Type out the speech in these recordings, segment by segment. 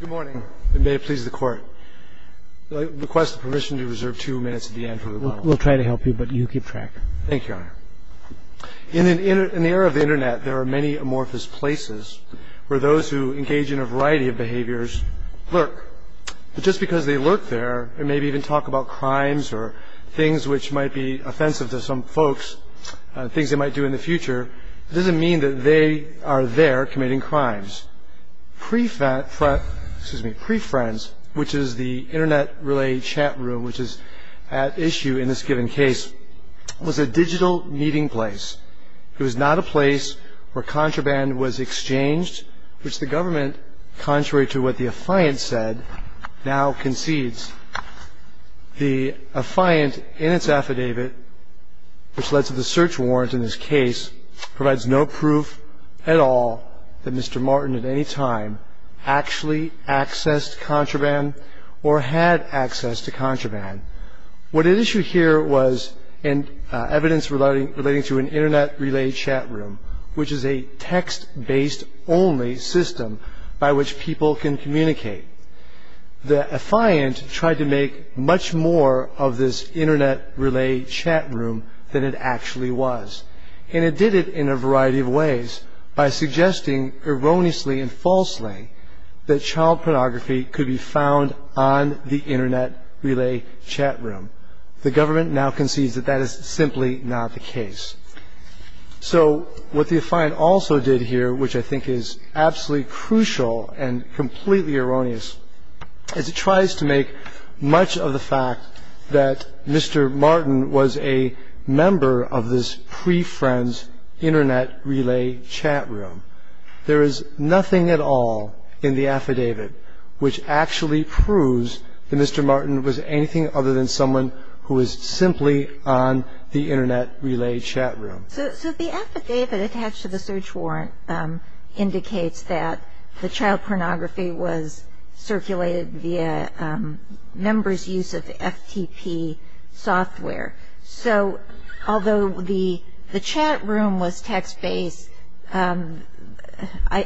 Good morning, and may it please the Court. I request the permission to reserve two minutes at the end for rebuttal. We'll try to help you, but you keep track. Thank you, Your Honor. In the era of the Internet, there are many amorphous places where those who engage in a variety of behaviors lurk. But just because they lurk there and maybe even talk about crimes or things which might be offensive to some folks, things they might do in the future, doesn't mean that they are there committing crimes. PreFriends, which is the Internet-related chat room which is at issue in this given case, was a digital meeting place. It was not a place where contraband was exchanged, which the government, contrary to what the affiant said, now concedes. The affiant in its affidavit, which led to the search warrant in this case, provides no proof at all that Mr. Martin at any time actually accessed contraband or had access to contraband. What at issue here was evidence relating to an Internet-related chat room, which is a text-based only system by which people can communicate. The affiant tried to make much more of this Internet-related chat room than it actually was. And it did it in a variety of ways by suggesting erroneously and falsely that child pornography could be found on the Internet-related chat room. The government now concedes that that is simply not the case. So what the affiant also did here, which I think is absolutely crucial and completely erroneous, is it tries to make much of the fact that Mr. Martin was a member of this PreFriends Internet-related chat room. There is nothing at all in the affidavit which actually proves that Mr. Martin was anything other than someone who was simply on the Internet-related chat room. So the affidavit attached to the search warrant indicates that the child pornography was circulated via members' use of FTP software. So although the chat room was text-based, I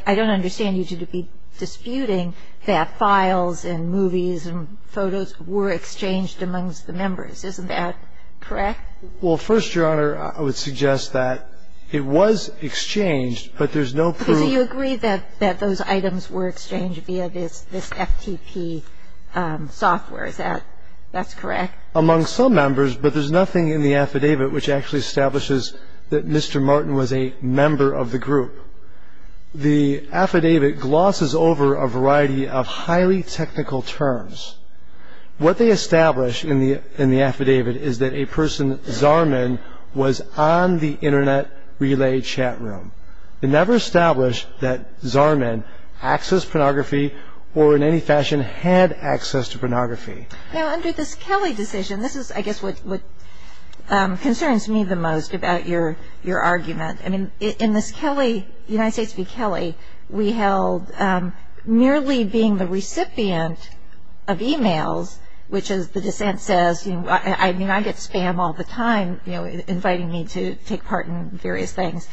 don't understand you to be disputing that files and movies and photos were exchanged amongst the members. Isn't that correct? Well, first, Your Honor, I would suggest that it was exchanged, but there's no proof. So you agree that those items were exchanged via this FTP software. Is that correct? Among some members, but there's nothing in the affidavit which actually establishes that Mr. Martin was a member of the group. The affidavit glosses over a variety of highly technical terms. What they establish in the affidavit is that a person, Zarman, was on the Internet-related chat room. They never establish that Zarman accessed pornography or in any fashion had access to pornography. Now, under this Kelly decision, this is, I guess, what concerns me the most about your argument. I mean, in this Kelly, United States v. Kelly, we held merely being the recipient of e-mails, which as the dissent says, you know, I get spam all the time, you know, inviting me to take part in various things.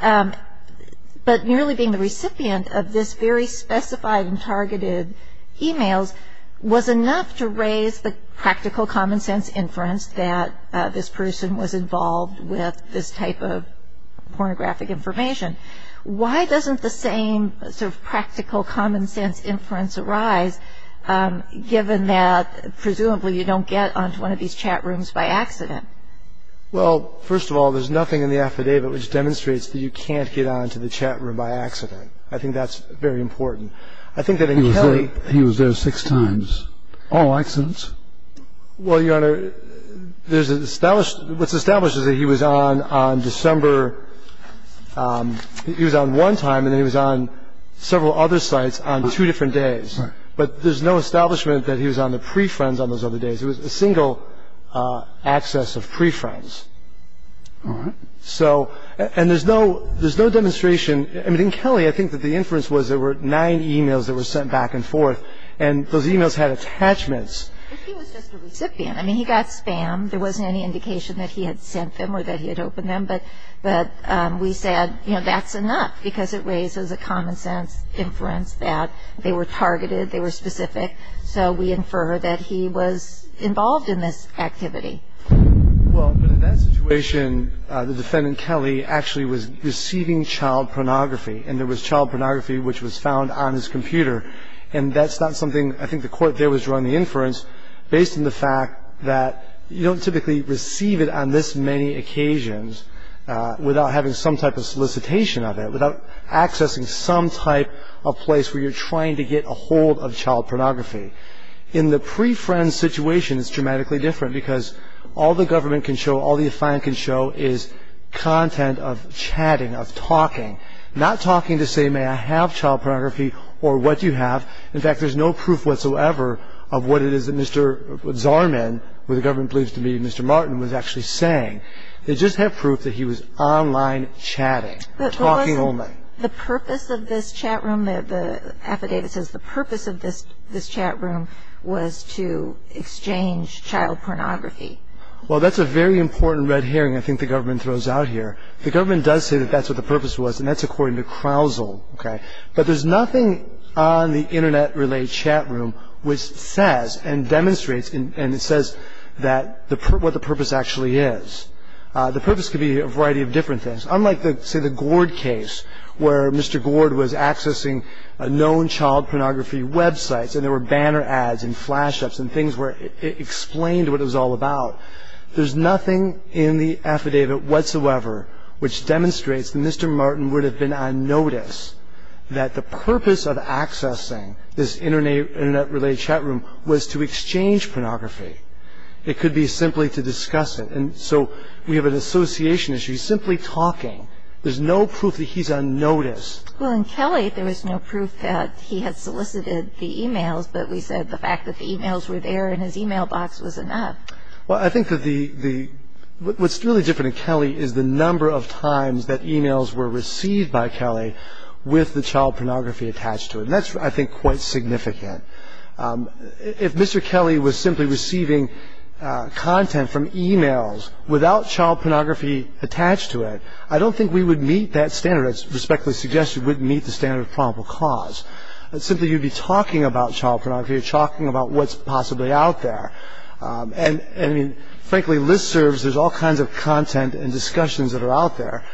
But merely being the recipient of this very specified and targeted e-mails was enough to raise the practical common sense inference that this person was involved with this type of pornographic information. Why doesn't the same sort of practical common sense inference arise, given that presumably you don't get onto one of these chat rooms by accident? Well, first of all, there's nothing in the affidavit which demonstrates that you can't get onto the chat room by accident. I think that's very important. I think that in Kelly He was there six times. All accidents? Well, Your Honor, there's an established What's established is that he was on December He was on one time, and then he was on several other sites on two different days. But there's no establishment that he was on the pre-friends on those other days. It was a single access of pre-friends. All right. So and there's no demonstration I mean, in Kelly, I think that the inference was there were nine e-mails that were sent back and forth, and those e-mails had attachments. But he was just a recipient. I mean, he got spam. There wasn't any indication that he had sent them or that he had opened them. But we said, you know, that's enough because it raises a common sense inference that they were targeted, they were specific. So we infer that he was involved in this activity. Well, but in that situation, the defendant, Kelly, actually was receiving child pornography, and there was child pornography which was found on his computer. And that's not something I think the court there was drawing the inference based on the fact that you don't typically receive it on this many occasions without having some type of solicitation of it, without accessing some type of place where you're trying to get a hold of child pornography. In the pre-friend situation, it's dramatically different because all the government can show, all the defiant can show is content of chatting, of talking, not talking to say, may I have child pornography or what do you have. In fact, there's no proof whatsoever of what it is that Mr. Zorman, who the government believes to be Mr. Martin, was actually saying. They just have proof that he was online chatting, talking only. The purpose of this chat room, the affidavit says the purpose of this chat room was to exchange child pornography. Well, that's a very important red herring I think the government throws out here. The government does say that that's what the purpose was, and that's according to Crowsell. But there's nothing on the internet relay chat room which says and demonstrates, and it says what the purpose actually is. The purpose could be a variety of different things. Unlike, say, the Gord case where Mr. Gord was accessing known child pornography websites and there were banner ads and flash-ups and things where it explained what it was all about. There's nothing in the affidavit whatsoever which demonstrates that Mr. Martin would have been on notice that the purpose of accessing this internet relay chat room was to exchange pornography. It could be simply to discuss it. And so we have an association issue. He's simply talking. There's no proof that he's on notice. Well, in Kelly there was no proof that he had solicited the e-mails, but we said the fact that the e-mails were there in his e-mail box was enough. Well, I think what's really different in Kelly is the number of times that e-mails were received by Kelly with the child pornography attached to it. And that's, I think, quite significant. If Mr. Kelly was simply receiving content from e-mails without child pornography attached to it, I don't think we would meet that standard. I respectfully suggest we wouldn't meet the standard of probable cause. Simply, you'd be talking about child pornography. You're talking about what's possibly out there. And, frankly, listservs, there's all kinds of content and discussions that are out there,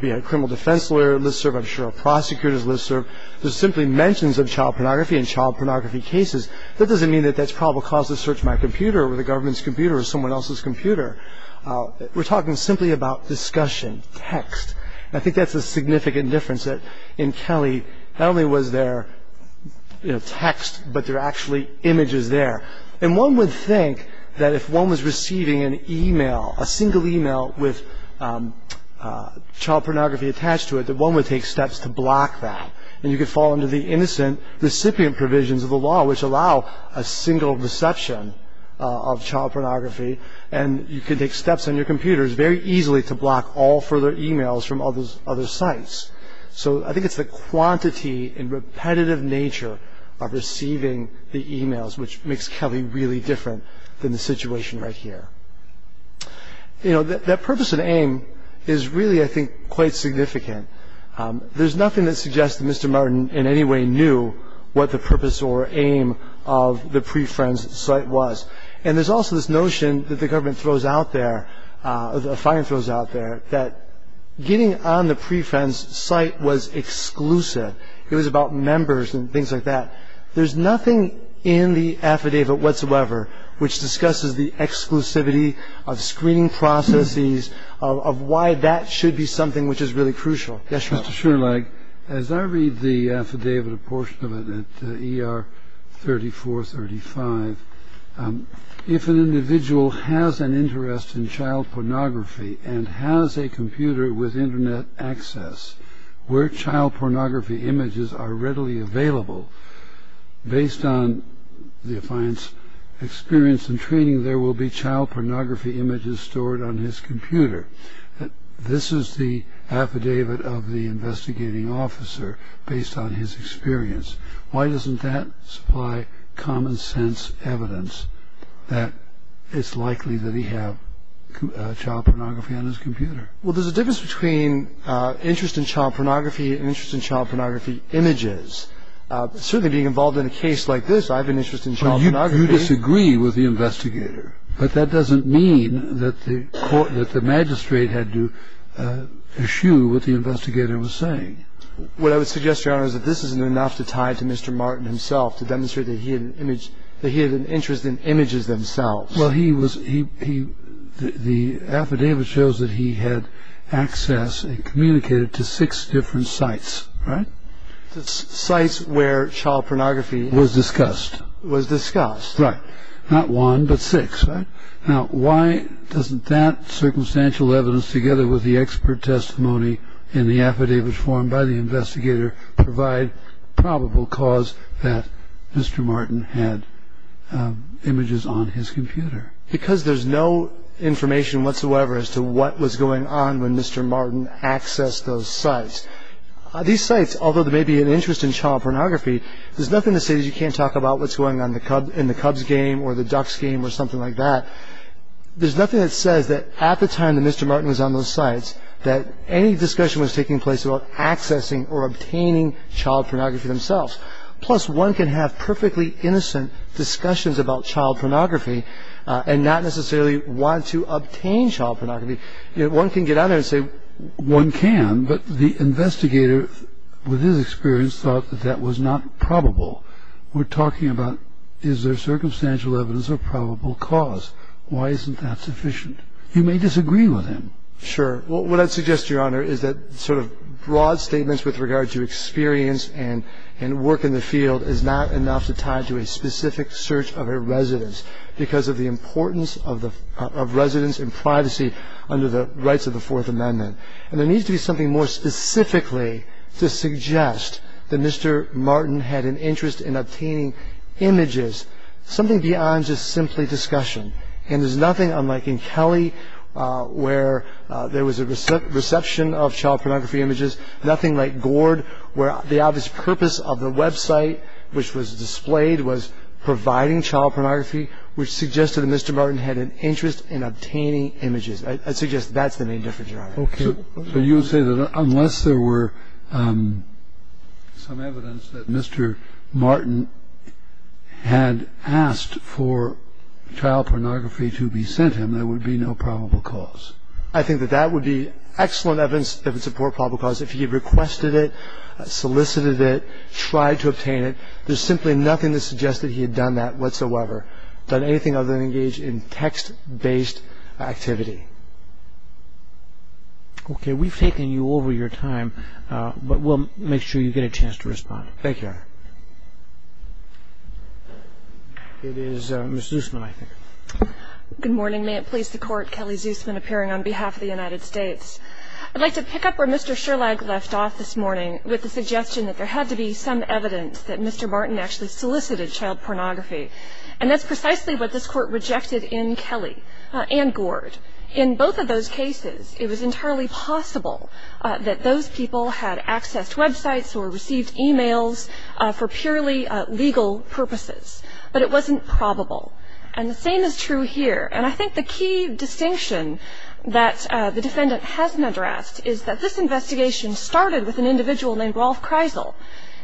be it a criminal defense lawyer's listserv, I'm sure a prosecutor's listserv. There's simply mentions of child pornography and child pornography cases. That doesn't mean that that's probable cause to search my computer or the government's computer or someone else's computer. We're talking simply about discussion, text. And I think that's a significant difference that in Kelly not only was there text, but there were actually images there. And one would think that if one was receiving an e-mail, a single e-mail with child pornography attached to it, that one would take steps to block that. And you could fall under the innocent recipient provisions of the law, which allow a single deception of child pornography. And you could take steps on your computers very easily to block all further e-mails from other sites. So I think it's the quantity and repetitive nature of receiving the e-mails which makes Kelly really different than the situation right here. You know, that purpose and aim is really, I think, quite significant. There's nothing that suggests that Mr. Martin in any way knew what the purpose or aim of the pre-Friends site was. And there's also this notion that the government throws out there, a fine throws out there, that getting on the pre-Friends site was exclusive. It was about members and things like that. There's nothing in the affidavit whatsoever which discusses the exclusivity of screening processes, of why that should be something which is really crucial. Yes, sir. Mr. Sherlock, as I read the affidavit, a portion of it, at ER 3435, if an individual has an interest in child pornography and has a computer with Internet access where child pornography images are readily available, based on the client's experience and training, there will be child pornography images stored on his computer. This is the affidavit of the investigating officer based on his experience. Why doesn't that supply common sense evidence that it's likely that he has child pornography on his computer? Well, there's a difference between interest in child pornography and interest in child pornography images. Certainly being involved in a case like this, I have an interest in child pornography. But you disagree with the investigator. But that doesn't mean that the magistrate had to eschew what the investigator was saying. What I would suggest, Your Honor, is that this isn't enough to tie to Mr. Martin himself, to demonstrate that he had an interest in images themselves. Well, the affidavit shows that he had access and communicated to six different sites, right? Sites where child pornography was discussed. Was discussed. Right. Not one, but six, right? Now, why doesn't that circumstantial evidence, together with the expert testimony and the affidavit formed by the investigator, provide probable cause that Mr. Martin had images on his computer? Because there's no information whatsoever as to what was going on when Mr. Martin accessed those sites. These sites, although there may be an interest in child pornography, there's nothing to say that you can't talk about what's going on in the Cubs game or the Ducks game or something like that. There's nothing that says that at the time that Mr. Martin was on those sites that any discussion was taking place about accessing or obtaining child pornography themselves. Plus, one can have perfectly innocent discussions about child pornography and not necessarily want to obtain child pornography. One can get out there and say one can, but the investigator, with his experience, thought that that was not probable. We're talking about is there circumstantial evidence or probable cause? Why isn't that sufficient? You may disagree with him. Sure. What I'd suggest, Your Honor, is that sort of broad statements with regard to experience and work in the field is not enough to tie to a specific search of a residence because of the importance of residence and privacy under the rights of the Fourth Amendment. And there needs to be something more specifically to suggest that Mr. Martin had an interest in obtaining images, something beyond just simply discussion. And there's nothing, unlike in Kelly, where there was a reception of child pornography images, nothing like Gord, where the obvious purpose of the website, which was displayed, was providing child pornography, which suggested that Mr. Martin had an interest in obtaining images. I suggest that's the main difference, Your Honor. Okay. So you say that unless there were some evidence that Mr. Martin had asked for child pornography to be sent him, there would be no probable cause? I think that that would be excellent evidence that would support probable cause. If he requested it, solicited it, tried to obtain it, there's simply nothing to suggest that he had done that whatsoever, done anything other than engage in text-based activity. Okay. We've taken you over your time, but we'll make sure you get a chance to respond. Thank you, Your Honor. It is Ms. Zusman, I think. Good morning. May it please the Court, Kelly Zusman, appearing on behalf of the United States. I'd like to pick up where Mr. Sherlock left off this morning with the suggestion that there had to be some evidence that Mr. Martin actually solicited child pornography. And that's precisely what this Court rejected in Kelly and Gord. In both of those cases, it was entirely possible that those people had accessed websites or received e-mails for purely legal purposes. But it wasn't probable. And the same is true here. And I think the key distinction that the defendant hasn't addressed is that this investigation started with an individual named Rolf Kreisel.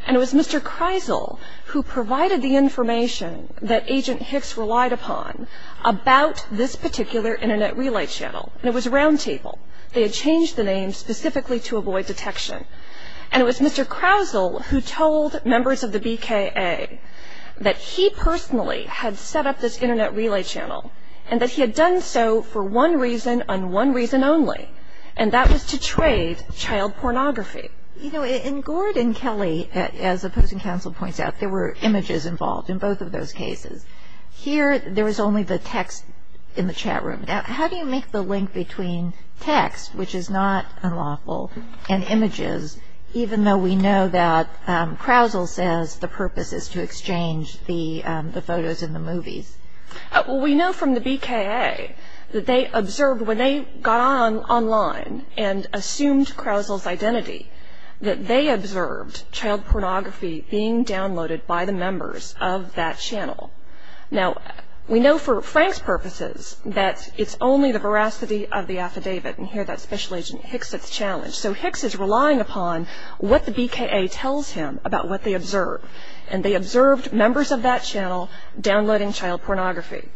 And it was Mr. Kreisel who provided the information that Agent Hicks relied upon about this particular Internet relay channel. And it was a roundtable. They had changed the name specifically to avoid detection. And it was Mr. Kreisel who told members of the BKA that he personally had set up this Internet relay channel and that he had done so for one reason and one reason only. And that was to trade child pornography. You know, in Gord and Kelly, as the opposing counsel points out, there were images involved in both of those cases. Here, there was only the text in the chat room. Now, how do you make the link between text, which is not unlawful, and images, even though we know that Kreisel says the purpose is to exchange the photos and the movies? Well, we know from the BKA that they observed when they got online and assumed Kreisel's identity that they observed child pornography being downloaded by the members of that channel. Now, we know for Frank's purposes that it's only the veracity of the affidavit. And here, that's Special Agent Hicks that's challenged. So Hicks is relying upon what the BKA tells him about what they observed. And they observed members of that channel downloading child pornography.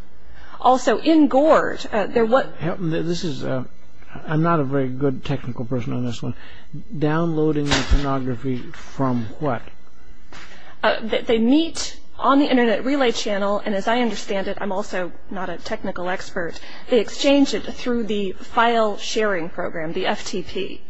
Also, in Gord, they're what... This is a... I'm not a very good technical person on this one. Downloading pornography from what? They meet on the Internet relay channel, and as I understand it, I'm also not a technical expert, they exchange it through the file sharing program, the FTP.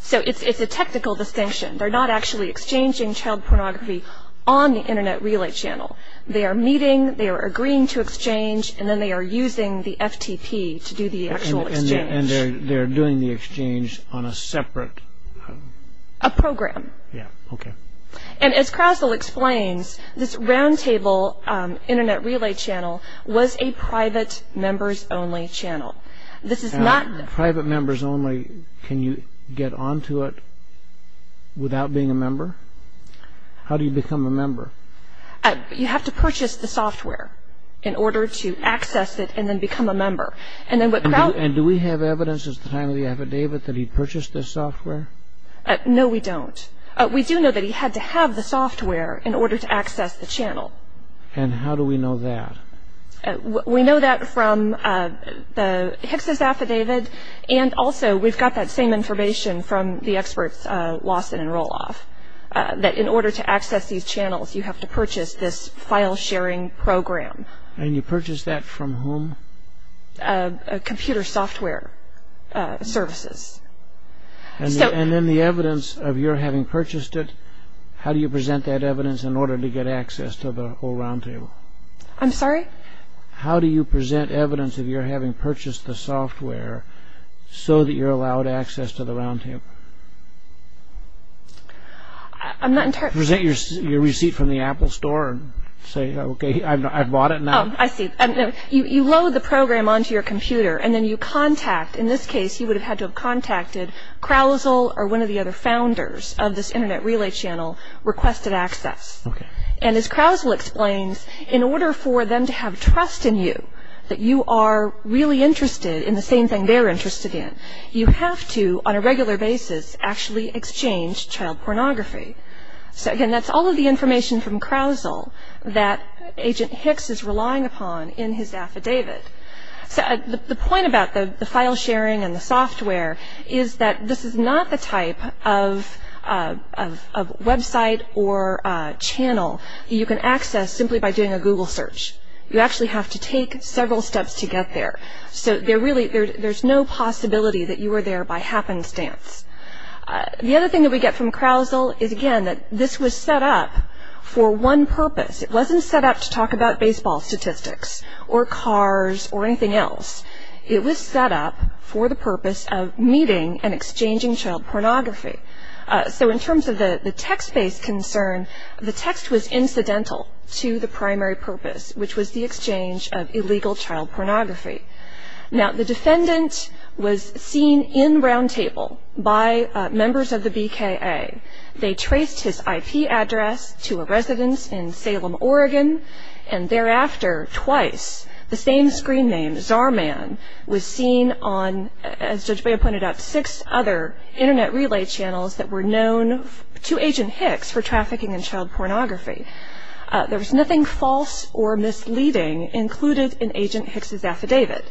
So it's a technical distinction. They're not actually exchanging child pornography on the Internet relay channel. They are meeting, they are agreeing to exchange, and then they are using the FTP to do the actual exchange. And they're doing the exchange on a separate... A program. Yeah, okay. And as Kreisel explains, this roundtable Internet relay channel was a private members-only channel. This is not... Private members-only, can you get onto it without being a member? How do you become a member? You have to purchase the software in order to access it and then become a member. And then what Kraut... And do we have evidence at the time of the affidavit that he purchased this software? No, we don't. We do know that he had to have the software in order to access the channel. And how do we know that? We know that from the Hicks' affidavit, and also we've got that same information from the experts Lawson and Roloff, that in order to access these channels, you have to purchase this file sharing program. And you purchased that from whom? Computer software services. And then the evidence of your having purchased it, how do you present that evidence in order to get access to the whole roundtable? I'm sorry? How do you present evidence of your having purchased the software so that you're allowed access to the roundtable? I'm not entirely... Present your receipt from the Apple store and say, okay, I've bought it now. Oh, I see. You load the program onto your computer and then you contact, in this case you would have had to have contacted Krausel or one of the other founders of this Internet Relay Channel requested access. Okay. And as Krausel explains, in order for them to have trust in you, that you are really interested in the same thing they're interested in, you have to, on a regular basis, actually exchange child pornography. So, again, that's all of the information from Krausel that Agent Hicks is relying upon in his affidavit. The point about the file sharing and the software is that this is not the type of website or channel that you can access simply by doing a Google search. You actually have to take several steps to get there. So there's no possibility that you were there by happenstance. The other thing that we get from Krausel is, again, that this was set up for one purpose. It wasn't set up to talk about baseball statistics or cars or anything else. It was set up for the purpose of meeting and exchanging child pornography. So in terms of the text-based concern, the text was incidental to the primary purpose, which was the exchange of illegal child pornography. Now, the defendant was seen in Roundtable by members of the BKA. They traced his IP address to a residence in Salem, Oregon, and thereafter twice the same screen name, Czar Man, was seen on, as Judge Baya pointed out, six other Internet relay channels that were known to Agent Hicks for trafficking in child pornography. There was nothing false or misleading included in Agent Hicks' affidavit.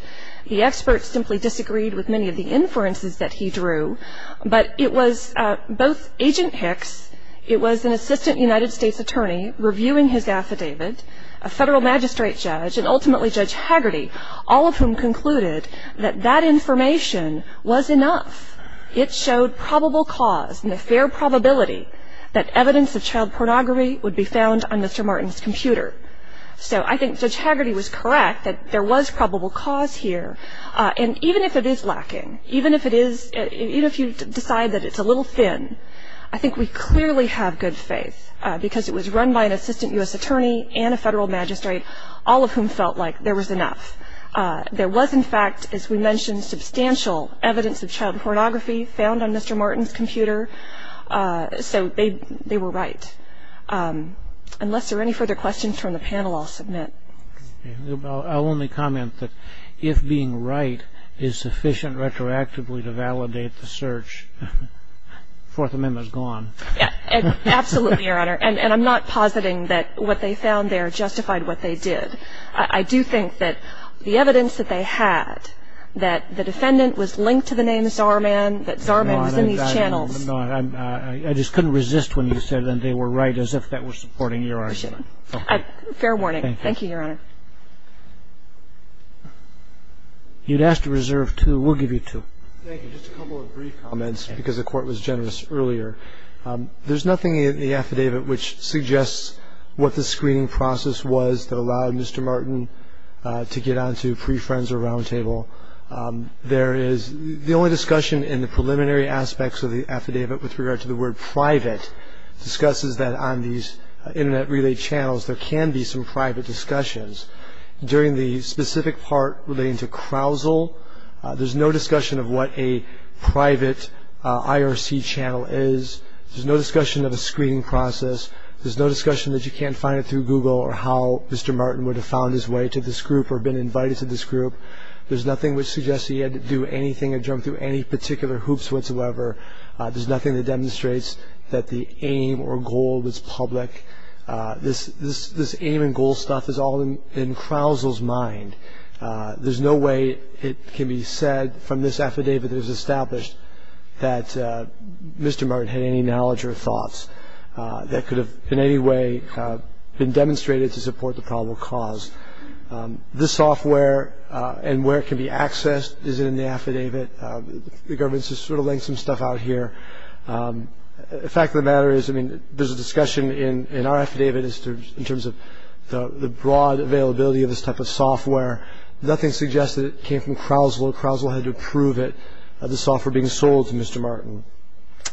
The experts simply disagreed with many of the inferences that he drew, but it was both Agent Hicks, it was an assistant United States attorney reviewing his affidavit, a federal magistrate judge, and ultimately Judge Hagerty, all of whom concluded that that information was enough. It showed probable cause and a fair probability that evidence of child pornography would be found on Mr. Martin's computer. So I think Judge Hagerty was correct that there was probable cause here. And even if it is lacking, even if you decide that it's a little thin, I think we clearly have good faith, because it was run by an assistant U.S. attorney and a federal magistrate, all of whom felt like there was enough. There was, in fact, as we mentioned, substantial evidence of child pornography found on Mr. Martin's computer. So they were right. Unless there are any further questions from the panel, I'll submit. I'll only comment that if being right is sufficient retroactively to validate the search, Fourth Amendment is gone. Absolutely, Your Honor. And I'm not positing that what they found there justified what they did. I do think that the evidence that they had, that the defendant was linked to the name Zahrman, that Zahrman was in these channels. No, I'm not. I just couldn't resist when you said that they were right as if that was supporting your argument. Fair warning. Thank you, Your Honor. We'll give you two. Thank you. Just a couple of brief comments, because the Court was generous earlier. There's nothing in the affidavit which suggests what the screening process was that allowed Mr. Martin to get onto pre-Friends or Roundtable. There is the only discussion in the preliminary aspects of the affidavit with regard to the word private, discusses that on these Internet-related channels there can be some private discussions. During the specific part relating to Crowsell, there's no discussion of what a private IRC channel is. There's no discussion of a screening process. There's no discussion that you can't find it through Google or how Mr. Martin would have found his way to this group or been invited to this group. There's nothing which suggests he had to do anything or jump through any particular hoops whatsoever. There's nothing that demonstrates that the aim or goal was public. This aim and goal stuff is all in Crowsell's mind. There's no way it can be said from this affidavit that was established that Mr. Martin had any knowledge or thoughts that could have in any way been demonstrated to support the probable cause. The software and where it can be accessed is in the affidavit. The government's just sort of laying some stuff out here. The fact of the matter is there's a discussion in our affidavit in terms of the broad availability of this type of software. Nothing suggests that it came from Crowsell. Crowsell had to approve it, the software being sold to Mr. Martin.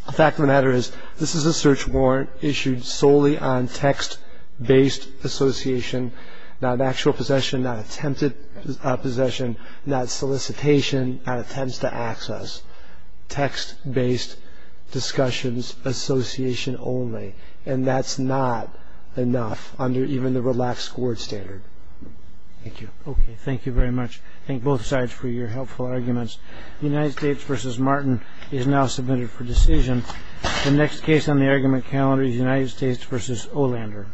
The fact of the matter is this is a search warrant issued solely on text-based association, not actual possession, not attempted possession, not solicitation, not attempts to access. Text-based discussions, association only. And that's not enough under even the relaxed court standard. Thank you. Okay, thank you very much. Thank both sides for your helpful arguments. United States v. Martin is now submitted for decision. The next case on the argument calendar is United States v. Olander.